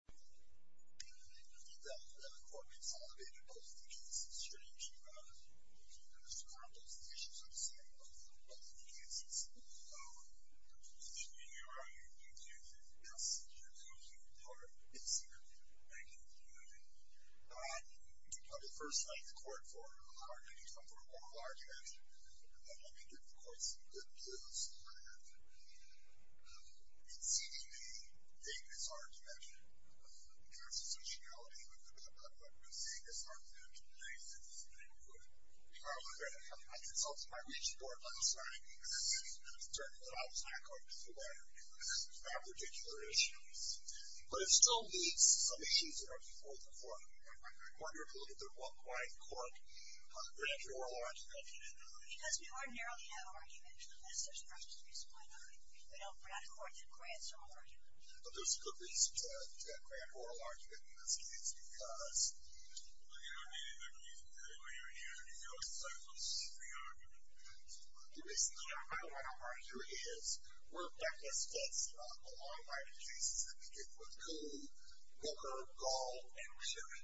I think that the court consolidated both the cases, Strange and Brown. Mr. Brown, both the issues are the same, both of the cases. The thing you do is you mess with your little human part, basically. I get it, I get it. You probably first find the court for a lot of argument, you come for a lot of argument, and then you give the court some good news. In C.D.P., the thing is argument. The constitutionality of the department, the thing is argument. I consulted my region board last night, and it was determined that I was not going to be a lawyer because of that particular issue. But it still meets some issues that are before the court. I wonder if we'll look at the worldwide court on the branch of oral argument. Because we ordinarily have argument, unless there's a reason why not. We don't. We're not a court that grants oral argument. But there's a good reason to grant oral argument in this case, because... Well, you don't need a reason to get it when you're here. You know, it's like, well, this is free argument. Basically, our worldwide argument here is, we're backless tests on the long line of cases that begin with Coe, Booker, Gall, and Reary.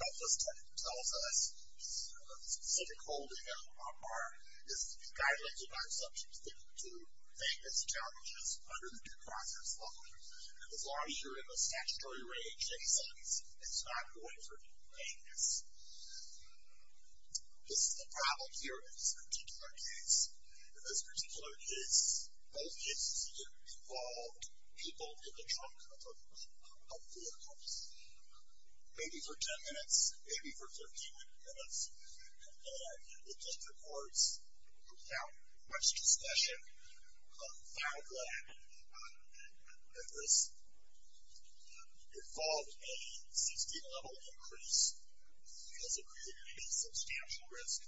Backless test tells us a specific holding of a mark is to be guided by assumptions that lead to vagueness challenges under the due process law. And as long as you're in the statutory range, it says it's not going for any vagueness. This is the problem here in this particular case. In this particular case, both cases involved people in the trunk of vehicles. Maybe for 10 minutes, maybe for 15 minutes. And the district courts, without much discussion, found that this involved a 16-level increase because it included a substantial risk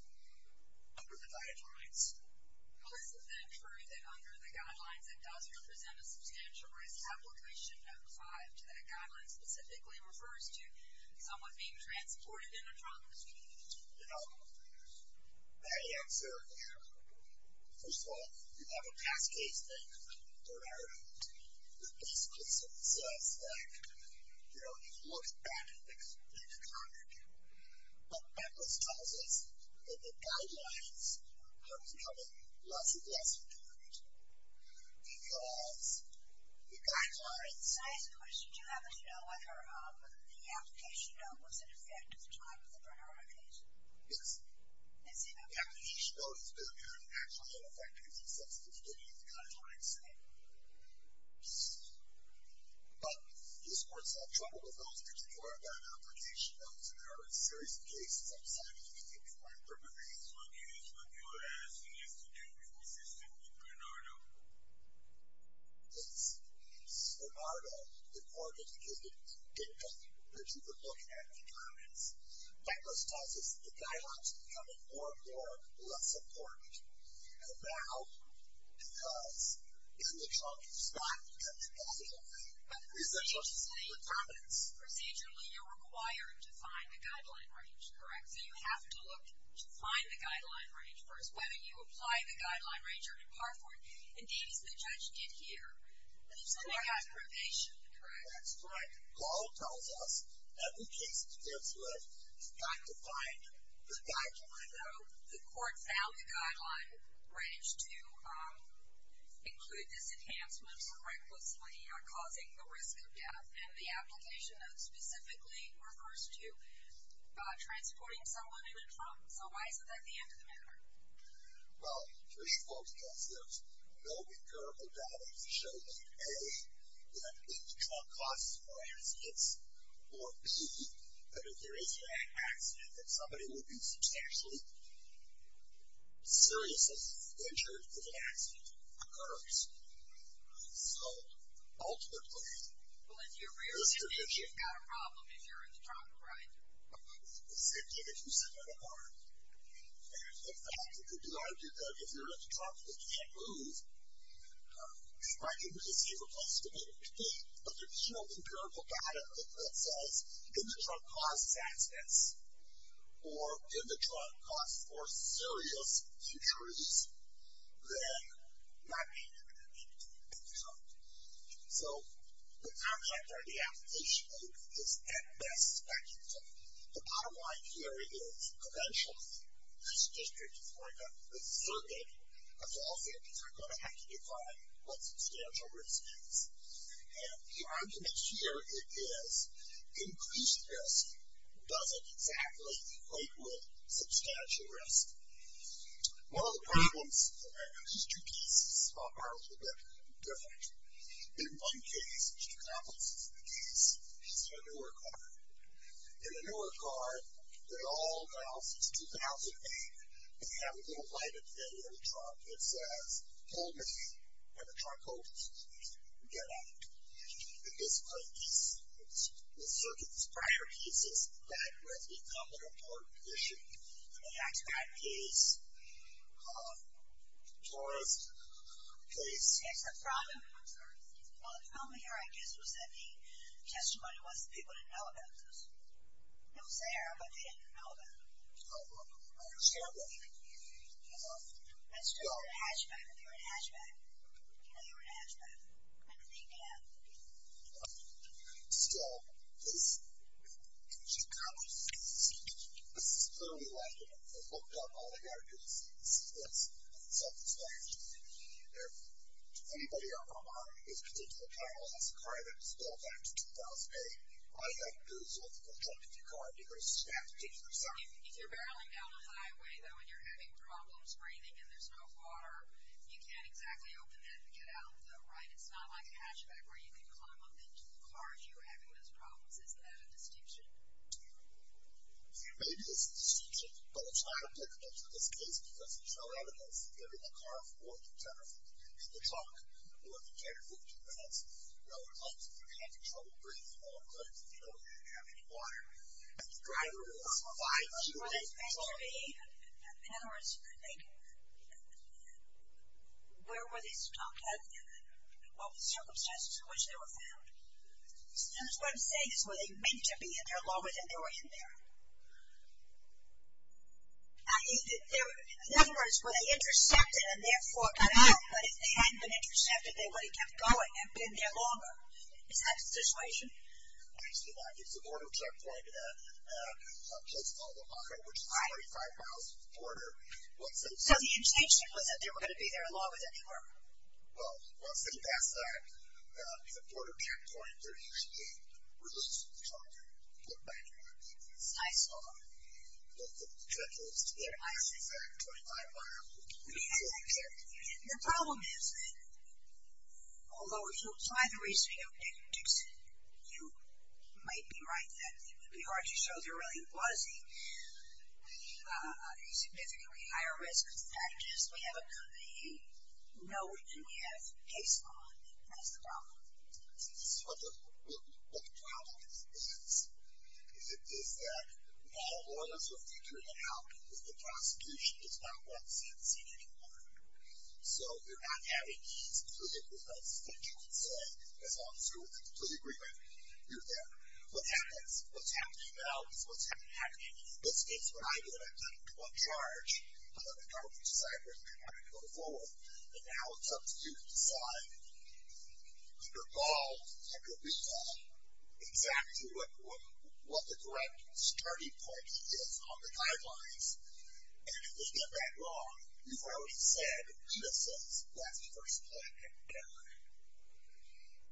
under the guidelines. Well, isn't that true, that under the guidelines, it does represent a substantial risk? The application of 5 to that guideline specifically refers to someone being transported in a trunk. You know, my answer here, first of all, you have a past case thing, but the best case in itself is that, you know, you look back at the complete argument. But backless tells us that the guidelines are becoming less and less important because the guidelines... I'm sorry, the science question. Do you have a note on whether the application note was an effect of the time of the prenotation? Yes. Is it? The application note has been, apparently, actually an effect because of the sensitivity of the guidelines, say. But the courts have trouble with those particular bad application notes and there are a series of cases outside of the 15-point permit range. That's what you're asking us to do with the system with Bernardo? Yes. Bernardo, the court indicated that you would look at the comments. Backless tells us the guidelines are becoming more and more less important. And now, because in the trunk, it's not because of the passage of time, it's because of the comments. Procedurally, you're required to find the guideline range, correct? Yes. So you have to look to find the guideline range first, whether you apply the guideline range or depart for it. Indeed, as the judge did here. And there's something about probation, correct? That's correct. Paul tells us that the case defense would have to find the guideline range. So the court found the guideline range to include this enhancement for recklessly causing the risk of death. And the application notes specifically refers to transporting someone in a trunk. So why isn't that the end of the matter? Well, first of all, because there's no empirical data to show that, A, that any trunk causes more accidents, or B, that if there is an accident, that somebody would be substantially seriously injured if an accident occurs. So ultimately, there's the issue. Well, if you're rearsighted, you've got a problem if you're in the trunk, right? Exactly. If you sit on a barn. And in fact, it could be argued that if you're in the trunk and you can't move, it's likely to be a safer place to be. But there's no empirical data that says, if the trunk causes accidents, or if the trunk causes more serious injuries, than not being in the trunk. So the contract or the application note is, at best, speculative. The bottom line here is, eventually, this district is like a circuit of all cities. We're going to have to define what substantial risk is. And the argument here is, increased risk doesn't exactly equate with substantial risk. One of the problems, these two pieces are a little bit different. In one case, which accomplishes the case, is in a newer car. In a newer car, they all now, since 2008, they have a little light at the end of the trunk that says, hold me when the trunk opens. Get out. In this current case, the circuit's prior cases, that has become an important issue. In the X-PAC case, it's a problem. Well, the problem here, I guess, was that the testimony was that people didn't know about this. It was there, but they didn't know about it. That's true for the Hatchback. They were in Hatchback. They were in Hatchback. And they did. Still, this is clearly likely. They've looked up all they've got to do is see this. It's self-explanatory. If anybody out there is particularly paralyzed in a car that was built back in 2008, all you've got to do is look at the trunk of your car and you're going to snap the teeth of your tongue. If you're barreling down a highway, though, and you're having problems breathing and there's no water, you can't exactly open that and get out, though, right? It's not like a Hatchback where you can climb up into the car if you were having those problems. Is that a distinction? Maybe it's a distinction, but it's not a precondition in this case because there's no evidence that they were in the car for more than 10 or 15 minutes. They were talking for more than 10 or 15 minutes. No one claims that they were having trouble breathing. No one claims that they don't have any water. In other words, where were they stuck? What were the circumstances in which they were found? Who's going to say this? Were they meant to be in there longer than they were in there? In other words, were they intercepted and therefore cut out? But if they hadn't been intercepted, they would have kept going and been there longer. Is that the situation? I see that. It's a border checkpoint at a place called La Jolla, which is 25 miles from the border. So the intention was that they were going to be there longer than they were? Well, city passed that. It's a border checkpoint. They're usually released from the truck and put back in their vehicles. I saw that. But the checkpoints there are, in fact, 25 miles from the border. The problem is, although if you apply the reasoning of Dick Dixon, you might be right that it would be hard to show there really was a significantly higher risk. That just may have a company you know and we have a case on. That's the problem. This is what the problem is. It is that not all of us are figuring it out. The prosecution does not want C&C anymore. So you're not having these clinical tests that you would say as long as you're in complete agreement, you're there. What happens? What's happening now is what's happening. This is what I did. I took one charge. I let the government decide where they're going to go forward. And now it's up to you to decide under Ball, under Rita, exactly what the correct starting point is on the guidelines. And if they get that wrong, you've already said, and Rita says, that's the first point and you're done.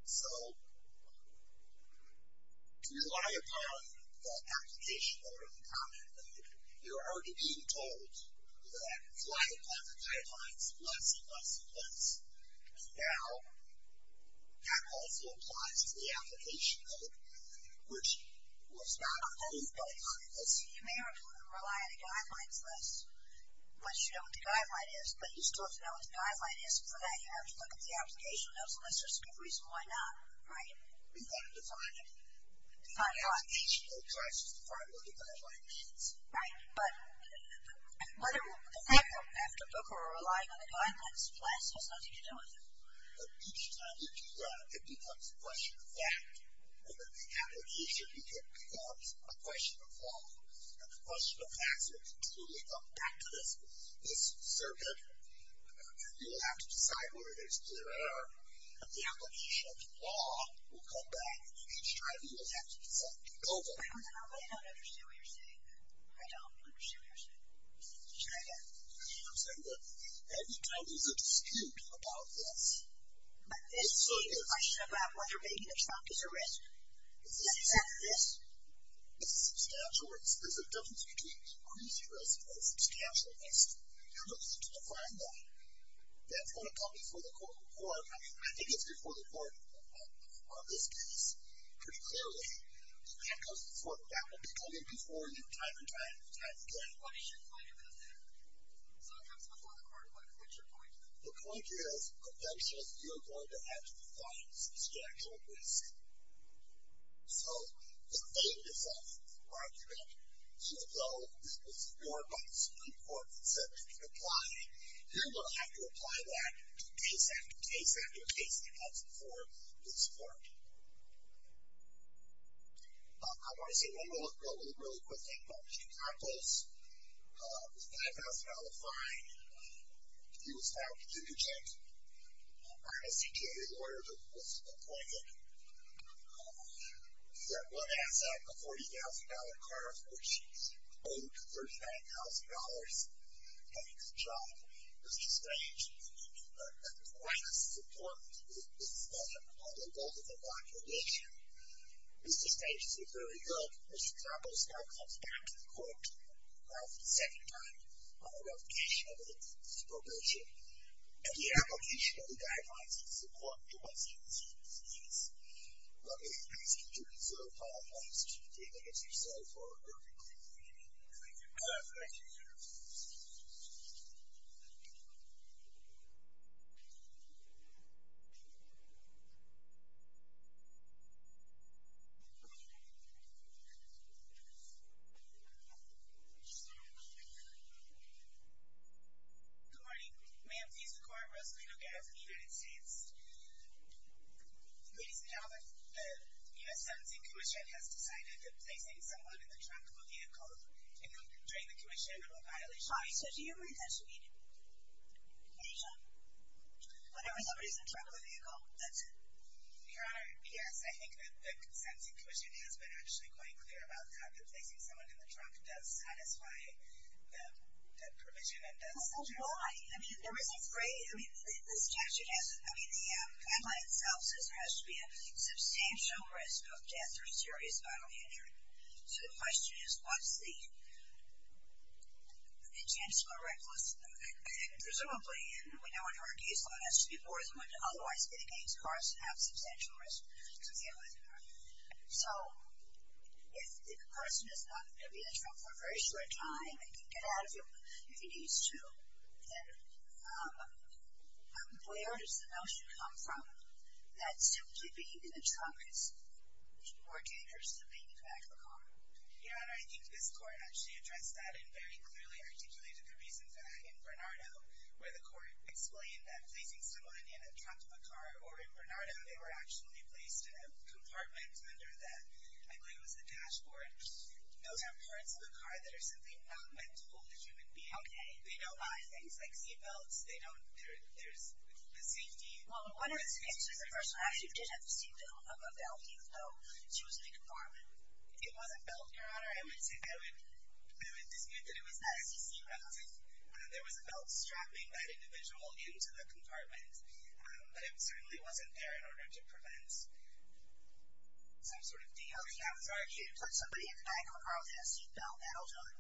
So, rely upon the application code and the comment code. You're already being told that rely upon the guidelines less and less and less. And now, that also applies to the application code, which was not approved by Congress. You may rely on the guidelines less once you know what the guideline is, but you still have to know what the guideline is. And for that, you have to look at the application notes and that's just a good reason why not, right? You've got to define it. The application code tries to define what the guideline means. But whether or not after Booker or relying on the guidelines less has nothing to do with it. But each time you do that, it becomes a question of fact. And then the application becomes a question of law. And the question of facts will continually come back to this circuit. You will have to decide whether there's clear error and the application of the law will come back and each time you will have to decide to build on it. I don't understand what you're saying. I don't understand what you're saying. You know what I'm saying? Every time there's a dispute about this, it's a question about whether maybe the Trump is a risk. Is this exactly this? Is this substantial risk? There's a difference between increasing risk and substantial risk. You're going to need to define that. That's going to come before the court. I mean, I think it's before the court on this case, pretty clearly. That comes before the court. That will be coming before you time and time and time again. What is your point about that? So it comes before the court. What's your point? The point is, conventionally, you're going to have to define substantial risk. So, the name of that argument should go before the Supreme Court that said that you can apply it. You're going to have to apply that to case after case after case that comes before this court. I want to say one more really, really quick thing about Mr. Campos. His $5,000 fine, he was found guilty. I had a CTA lawyer that was appointed. He had one asset, a $40,000 car, which he owed $39,000. Mr. Stange, the greatest support he's had on the whole of the population. Mr. Stange did very good. Mr. Campos now comes back to the court for the second time on the revocation of his probation. And the application of the guidelines and support to us in this case. Let me ask you to reserve five minutes to take a picture of yourself for a moment. Thank you. Thank you. Good morning. Ma'am, please record Rosalito Gadsden, United States. Ladies and gentlemen, the US 17 Commission has decided that placing someone in the trunk of a vehicle during the commission Hi, so do you resist leaving the trunk of a vehicle? Yes. Okay. That's it. Yes, I think that the 17 Commission has been actually quite clear about that. Placing someone in the trunk does satisfy the provision. Why? I mean, the statute has, I mean, the guideline itself says there has to be a substantial risk of death or serious bodily injury. So the question is, what's the chance of a reckless, presumably, and we know in our case someone has to be more than willing to otherwise get against cars and have substantial risk to deal with. So, if the person is not going to be in the trunk for a very short time and can get out of it if he needs to, then where does the notion come from that simply being in the trunk is more dangerous than being in the back of a car? Your Honor, I think this Court actually addressed that and very clearly articulated the reasons in Bernardo, where the Court explained that placing someone in the trunk of a car or in Bernardo, they were actually placed in a compartment under the, I believe it was the dashboard. Those are parts of a car that are simply not meant to hold a human being. Okay. They don't buy things like seatbelts, they don't, there's the safety. Well, what if the person actually did have the seatbelt of a Belki, though she was in a compartment? It wasn't Belki, Your Honor. I would dispute that it was not a seatbelt. There was a belt strapping that individual into the compartment, but it certainly wasn't there in order to prevent some sort of DLT, I would argue. But somebody in the back of a car with a seatbelt, that'll do it.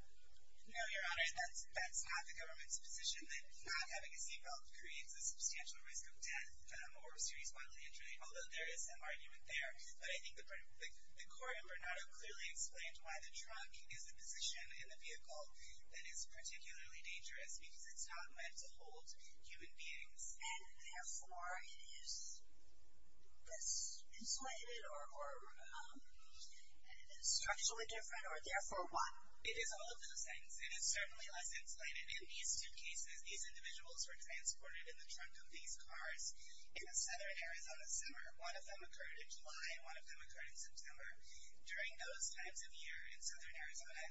No, Your Honor, that's not the government's position, that not having a seatbelt creates a substantial risk of death or serious bodily injury, although there is some argument there, but I think the Court in Bernardo clearly explained why the trunk is a position in the vehicle that is particularly dangerous because it's not meant to hold human beings. And therefore it is less insulated or structurally different or therefore what? It is all of those things. It is certainly less insulated in these two cases. These individuals were transported in the trunk of these cars in a southern Arizona summer. One of them occurred in July, one of them occurred in September. During those times of year in southern Arizona,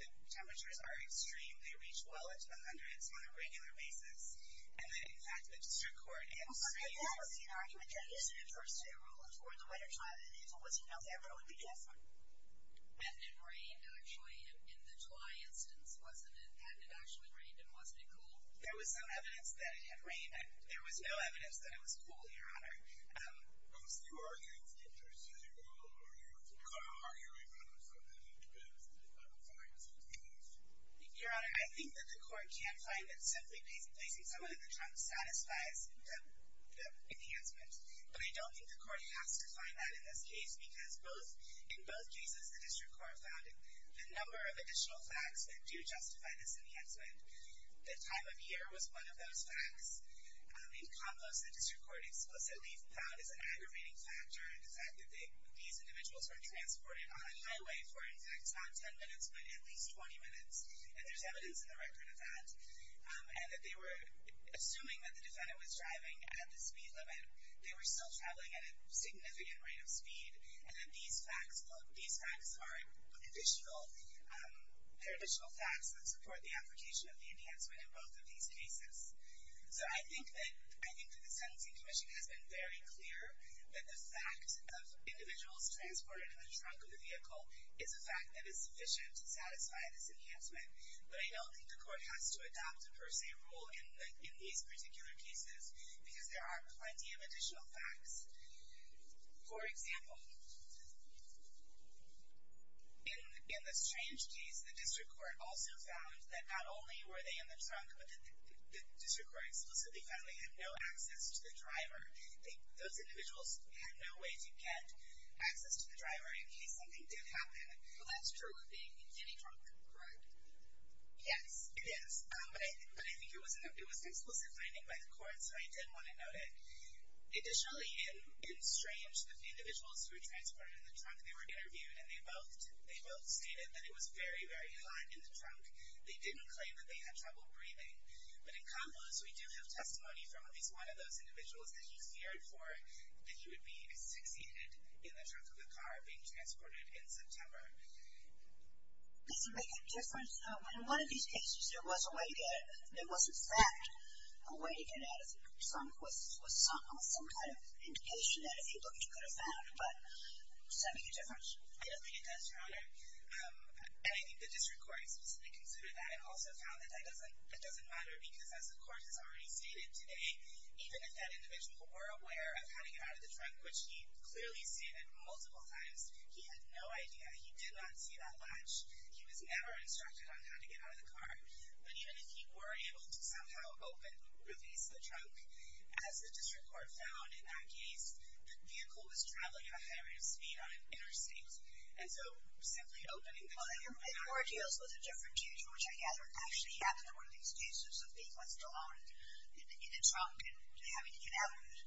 the temperatures are extremely reached well into the hundreds on a regular basis. And in fact, the District Court in St. Lucie argued that using a first-day rule toward the winter climate is a once-in-a-lifetime rule. Hadn't it rained actually in the July instance? Hadn't it actually rained and wasn't it cold? There was some evidence that it had rained, but there was no evidence that it was cold, Your Honor. Most of your evidence gives you a rule of order for arguing about it so that it depends on the facts of the case. Your Honor, I think that the Court can find that simply placing someone in the trunk satisfies the enhancement, but I don't think the Court has to find that in this case because in both cases the District Court found the number of additional facts that do justify this enhancement. The time of year was one of those facts. In Kamlos, the District Court explicitly found as an aggravating factor the fact that these individuals were transported on the highway for, in fact, not 10 minutes, but at least 20 minutes, and there's evidence in the record of that, and that they were assuming that the defendant was driving at the speed limit. They were still traveling at a significant rate of speed, and that these facts are additional facts that support the application of the enhancement in both of these cases. So I think that the Sentencing Commission has been very clear that the fact of individuals transported in the trunk of a vehicle is a fact that is sufficient to satisfy this enhancement, but I don't think the Court has to adopt a per se rule in these particular cases because there are plenty of additional facts. For example, in the Strange case, the District Court also found that not only were District Court explicitly found they had no access to the driver, those individuals had no way to get access to the driver in case something did happen. But that's true of being in any trunk, correct? Yes, it is. But I think it was an explicit finding by the Court, so I did want to note it. Additionally, in Strange, the individuals who were transported in the trunk, they were interviewed, and they both stated that it was very, very hot in the trunk. They didn't claim that they had trouble breathing. But in Kamlos, we do have testimony from at least one of those individuals that he feared for that he would be asphyxiated in the trunk of a car being transported in September. Does it make a difference? In one of these cases, there was a way to get there was a fact. A way to get out of the trunk was some kind of indication that if you looked, you could have found, but does that make a difference? I don't think it does, Your Honor. And I think the District Court specifically considered that and also found that it doesn't matter because as the Court has already stated today, even if that individual were aware of how to get out of the trunk, which he clearly stated multiple times, he had no idea. He did not see that latch. He was never instructed on how to get out of the car. But even if he were able to somehow open, release the trunk, as the District Court found in that case, the vehicle was traveling at a high rate of speed on an interstate. And so, simply opening the trunk Well, I heard you also had a different case in which I gather actually happened to be one of these cases of being left alone in the trunk and having to get out of it.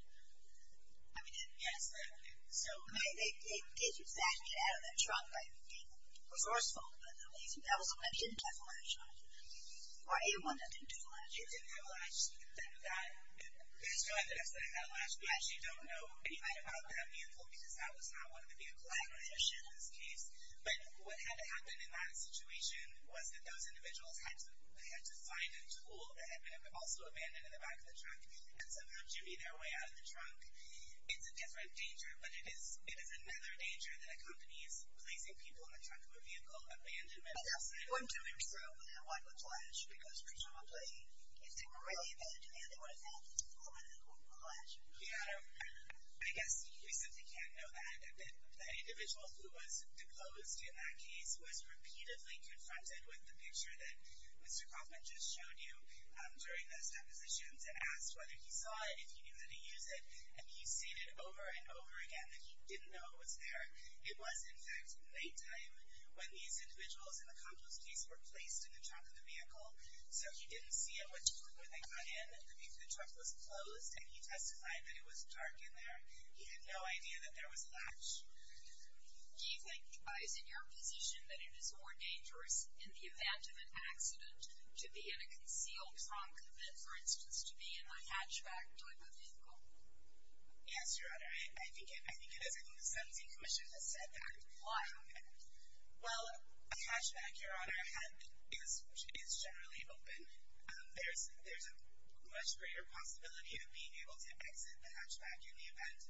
Yes. They did not get out of that trunk by being resourceful, but at least that was one that didn't have a latch on it. Or a one that didn't have a latch. It didn't have a latch. That's why I said it had a latch. We actually don't know anything about that vehicle because that was not one of the vehicles in this case. But what had happened in that situation was that those individuals had to find a tool that had been also abandoned in the back of the trunk. And somehow giving their way out of the trunk is a different danger, but it is another danger that accompanies placing people in the trunk of a vehicle. Abandonment. Why not a latch? Because presumably if they were really abandoning it, they would have found the tool in the latch. Yeah. I guess we simply can't know that. The individual who was deposed in that case was repeatedly confronted with the picture that Mr. Kaufman just showed you during those depositions and asked whether he saw it, if he knew how to use it. And he stated over and over again that he didn't know it was there. It was, in fact, nighttime when these individuals in the Kapos case were placed in the trunk of the vehicle. So he didn't see at which point were they closed and he testified that it was dark in there. He had no idea that there was a latch. Do you think, is it your position that it is more dangerous in the event of an accident to be in a concealed trunk than, for instance, to be in a hatchback type of vehicle? Yes, Your Honor. I think it is. I think the sentencing commission has said that. Why? Well, a hatchback, Your Honor, is generally open. There's a much greater possibility of being able to exit the hatchback in the event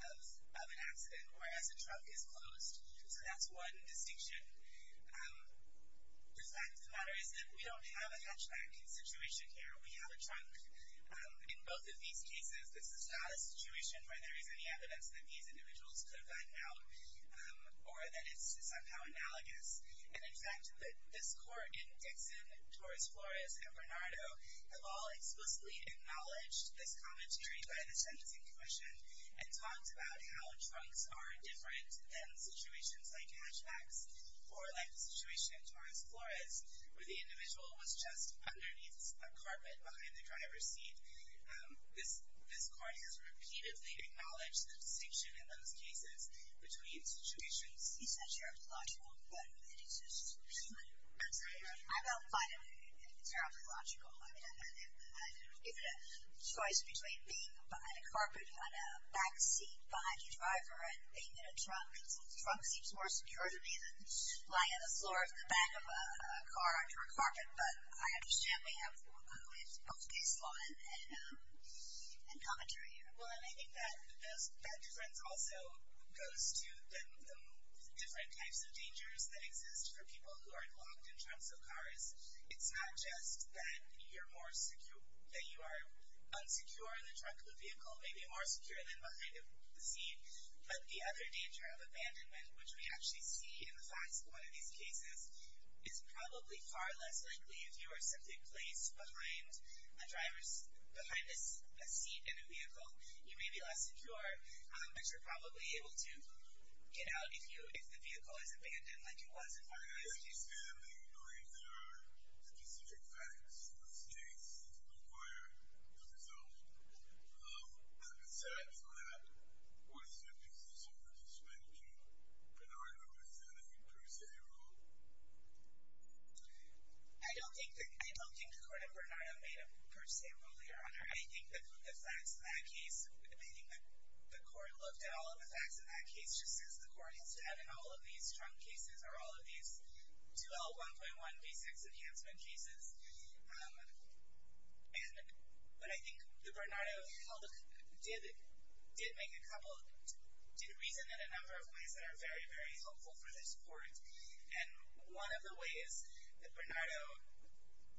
of an accident or as a trunk is closed. So that's one distinction. The fact of the matter is that we don't have a hatchbacking situation here. We have a trunk. In both of these cases, this is not a situation where there is any evidence that these individuals could have gotten out or that it's somehow analogous. And, in fact, this court in Dixon, Torres-Flores, and Bernardo have all explicitly acknowledged this commentary by the sentencing commission and talked about how trunks are different than situations like hatchbacks or like the situation in Torres-Flores where the individual was just underneath a carpet behind the driver's seat. This court has repeatedly acknowledged the distinction in those cases between situations He said you're a logical but it's just human. I don't find it terribly logical. I mean, I think it's a choice between being behind a carpet on a back seat behind your driver and being in a trunk. A trunk seems more secure to me than lying on the floor of the back of a car under a carpet but I understand we have both baseline and commentary here. Well, and I think that that difference also goes to the different types of dangers that exist for people who are locked in trunks of cars. It's not just that you're more secure that you are unsecure in the trunk of a vehicle, maybe more secure than behind a seat, but the other danger of abandonment, which we actually see in the facts of one of these cases is probably far less likely if you are simply placed behind a driver's, behind a seat in a vehicle. You may be less secure but you're probably able to, you know, if the vehicle is abandoned like it was in one of those cases. I understand that you believe there are specific facts that states require the result but besides that, what is your position with respect to Bernardo presenting per se rule? I don't think the court and Bernardo made a per se rule, Your Honor. I think the facts in that case, I think the court looked at all of the facts in that case just as the court has done in all of these trunk cases or all of these 2L1.1 V6 enhancement cases and, but I think the Bernardo held, did make a couple, did reason in a number of ways that are very, very helpful for this court and one of the ways that Bernardo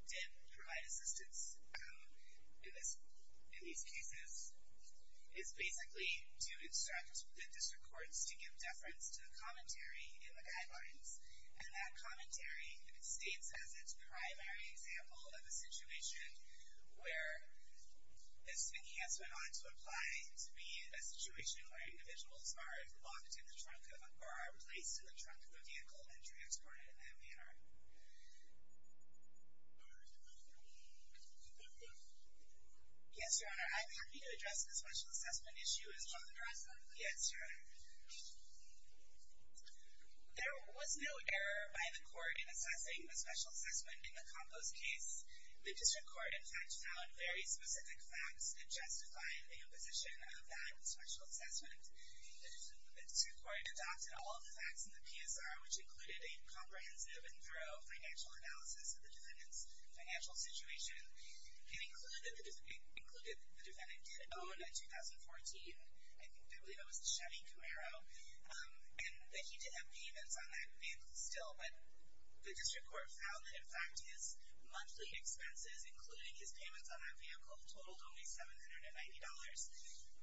did provide assistance in this, in these cases is basically to instruct the district courts to give deference to the commentary in the guidelines and that commentary states as its primary example of a situation where this enhancement ought to apply to be a situation where individuals are locked in the trunk of, or are placed in the trunk of a vehicle and transported in that manner. Yes, Your Honor, I'm happy to address the special assessment issue as well. Yes, Your Honor. There was no error by the court in assessing the special assessment in the Campos case. The district court in fact found very specific facts that justified the imposition of that special assessment. The district court adopted all of the facts in the PSR which included a comprehensive and thorough financial analysis of the defendant's financial situation. It included that the defendant did own a 2014, I think I believe it was a Chevy Camaro, and that he did have payments on that vehicle still, but the district court found that in fact his monthly expenses, including his payments on that vehicle, totaled only $790.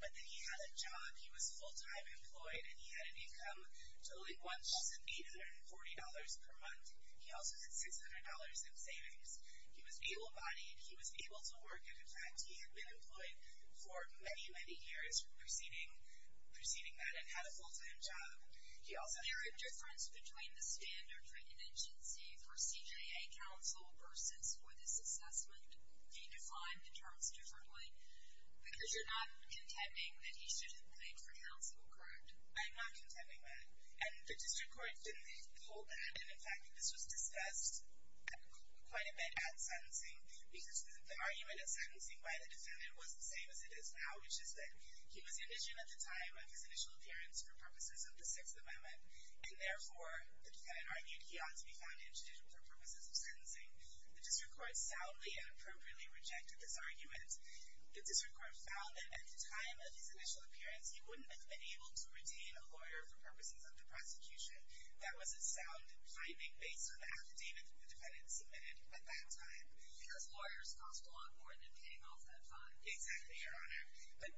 But that he had a job, he was full-time employed, and he had an income totaling $1,840 per month. He also did $600 in savings. He was able-bodied, he was able to work, and in fact he had been employed for many, many years preceding that and had a full-time job. Is there a difference between the standard written agency for CJA counsel versus for this assessment? Do you define the terms differently? Because you're not contending that he should have paid for counsel, correct? I'm not contending that. And the district court didn't hold that, and in fact it was discussed quite a bit at sentencing, because the argument at sentencing by the defendant was the same as it is now, which is that he was indigent at the time of his initial appearance for purposes of the Sixth Amendment, and therefore the defendant argued he ought to be found indigent for purposes of sentencing. The district court soundly and appropriately rejected this argument. The district court found that at the time of his initial appearance he wouldn't have been able to retain a lawyer for purposes of the prosecution. That was a sound finding based on the affidavit the defendant submitted at that time. Because lawyers cost a lot more than paying off that fine. Exactly, Your Honor. But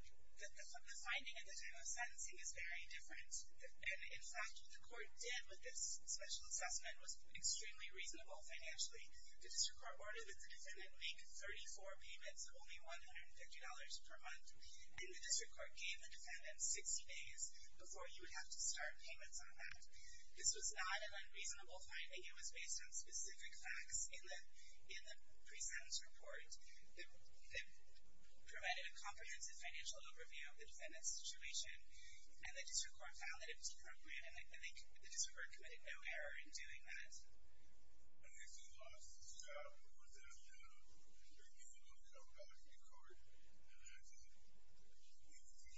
the finding at the time of sentencing is very different. And in fact what the court did with this special assessment was extremely reasonable financially. The district court ordered that the defendant make 34 payments of only $150 per month, and the district court gave the defendant 60 days before you would have to start payments on that. This was not an unreasonable finding. It was based on specific facts in the pre-sentence report that provided a comprehensive financial overview of the defendant's situation. And the district court found that it was appropriate and the district court committed no error in doing that. would that be a reasonable accountability for the court? And if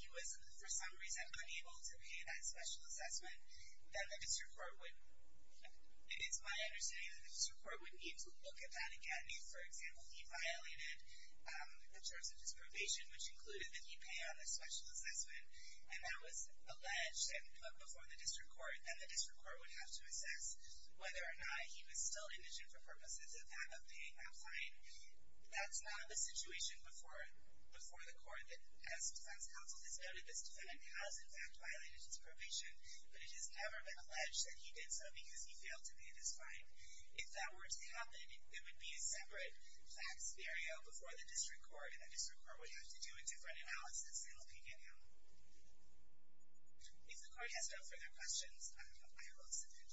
he was unable to pay that special assessment, then the district court would it's my understanding that the district court would need to look at that again. If, for example, he violated the terms of his probation, which included that he pay on the special assessment, and that was to look at that again. If the defendant's financial situation were to change, then the district court would have to assess whether or not he was still indigent for purposes of paying that fine. That's not the situation before the court. As defense counsel has noted, this defendant has in fact violated his probation, but it has never been alleged that he did so because he failed to pay this fine. If that were to happen, it would be a separate facts scenario before the district court, and the district court would have to do a different analysis in looking at him. If the court has no further questions, I will exit it.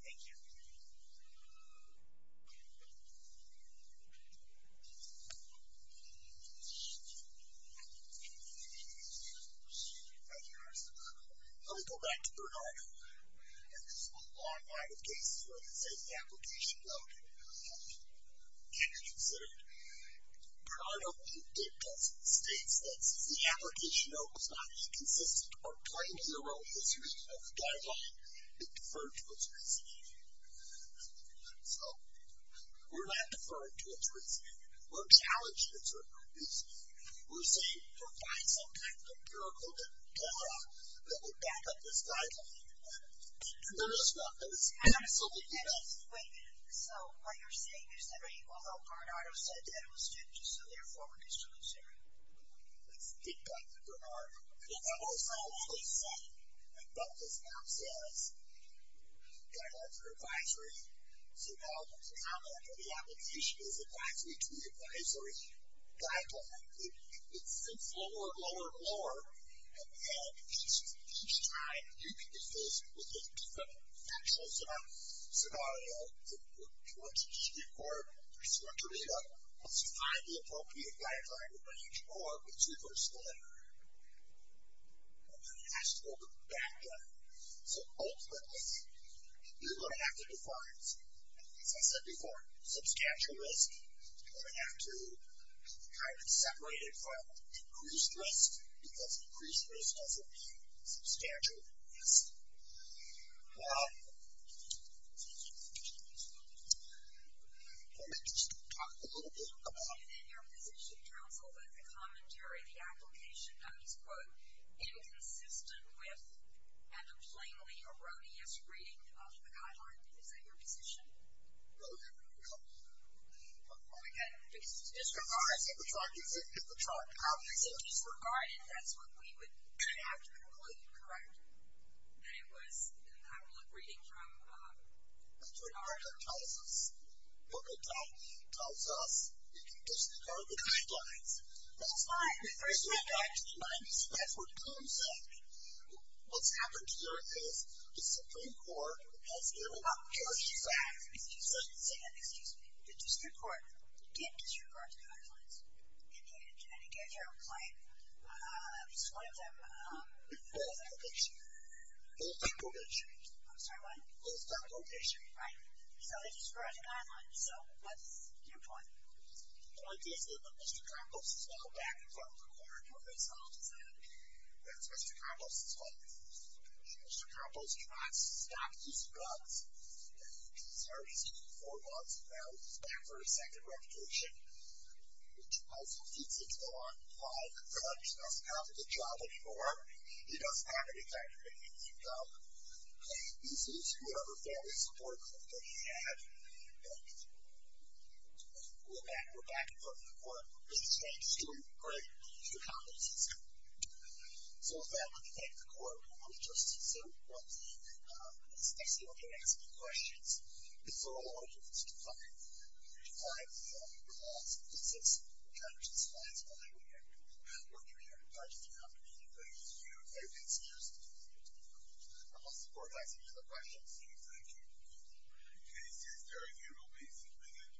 Thank you. Let me go back to Bernardo. In this long line of cases where the safety application though can be considered, Bernardo dictates, states that the application though is not inconsistent or plainly erroneous reading of the guideline and deferred to its reasoning. So, we're not deferring to its reasoning. We're challenging its recognition. We're saying, provide some kind of empirical data that will back up this guideline. And there is one that is absolutely false. Wait a minute. So, what you're saying is that although Bernardo said that he was concerned, let's get back to Bernardo. I also want to say that what this map says guidelines are advisory. So, now the comment of the application is advisory to the advisory guideline. It sinks lower and lower and lower and then each time you can be faced with a different factual scenario. Once you get to the district court, once you are cleared up, once you find the appropriate guideline range or its reverse delineator, then you have to go back there. So, ultimately you're going to have to define, as I said before, substantial risk. You're going to have to kind of separate it from increased risk because increased risk doesn't mean substantial risk. Now, let me just talk a little bit about... Is it in your position, counsel, that the commentary of the application is, quote, inconsistent with and a plainly erroneous reading of the guideline? Is that your position? Well, again, because it's disregarded. It's disregarded. It's disregarded. That's what we would have to conclude, correct? That it was... I would look reading from... That's what the article tells us. The book it tells us. It disregarded the guidelines. That's fine. The first thing I need to remind you is that's what Tom said. What's happened here is the Supreme Court has given up... Excuse me. The district court did disregard the guidelines. And it gave you a plain... This is one of them. Post-conviction. Post-conviction. I'm sorry, what? Post-conviction. Right. So they disregarded the guidelines. So what's your point? The point is that Mr. Campos is now back in front of the court and doing his own design. That's Mr. Campos' fault. Mr. Campos cannot stop using bugs. He's already seen four bugs. Now he's back for a second reputation, which also feeds into why the judge doesn't have a good job anymore. He doesn't have any factory income. He's using whatever family support company he had. We're back. We're back in front of the court. Mr. Campos is doing great. Mr. Campos is doing great. So with that, let me thank the court. I want to just say one thing. This next thing I want to ask you questions is for all of you to find the last piece of this judge's final argument. We're here to touch down anything you have excused. I will support that. Any other questions? Thank you. This hearing here will be submitted.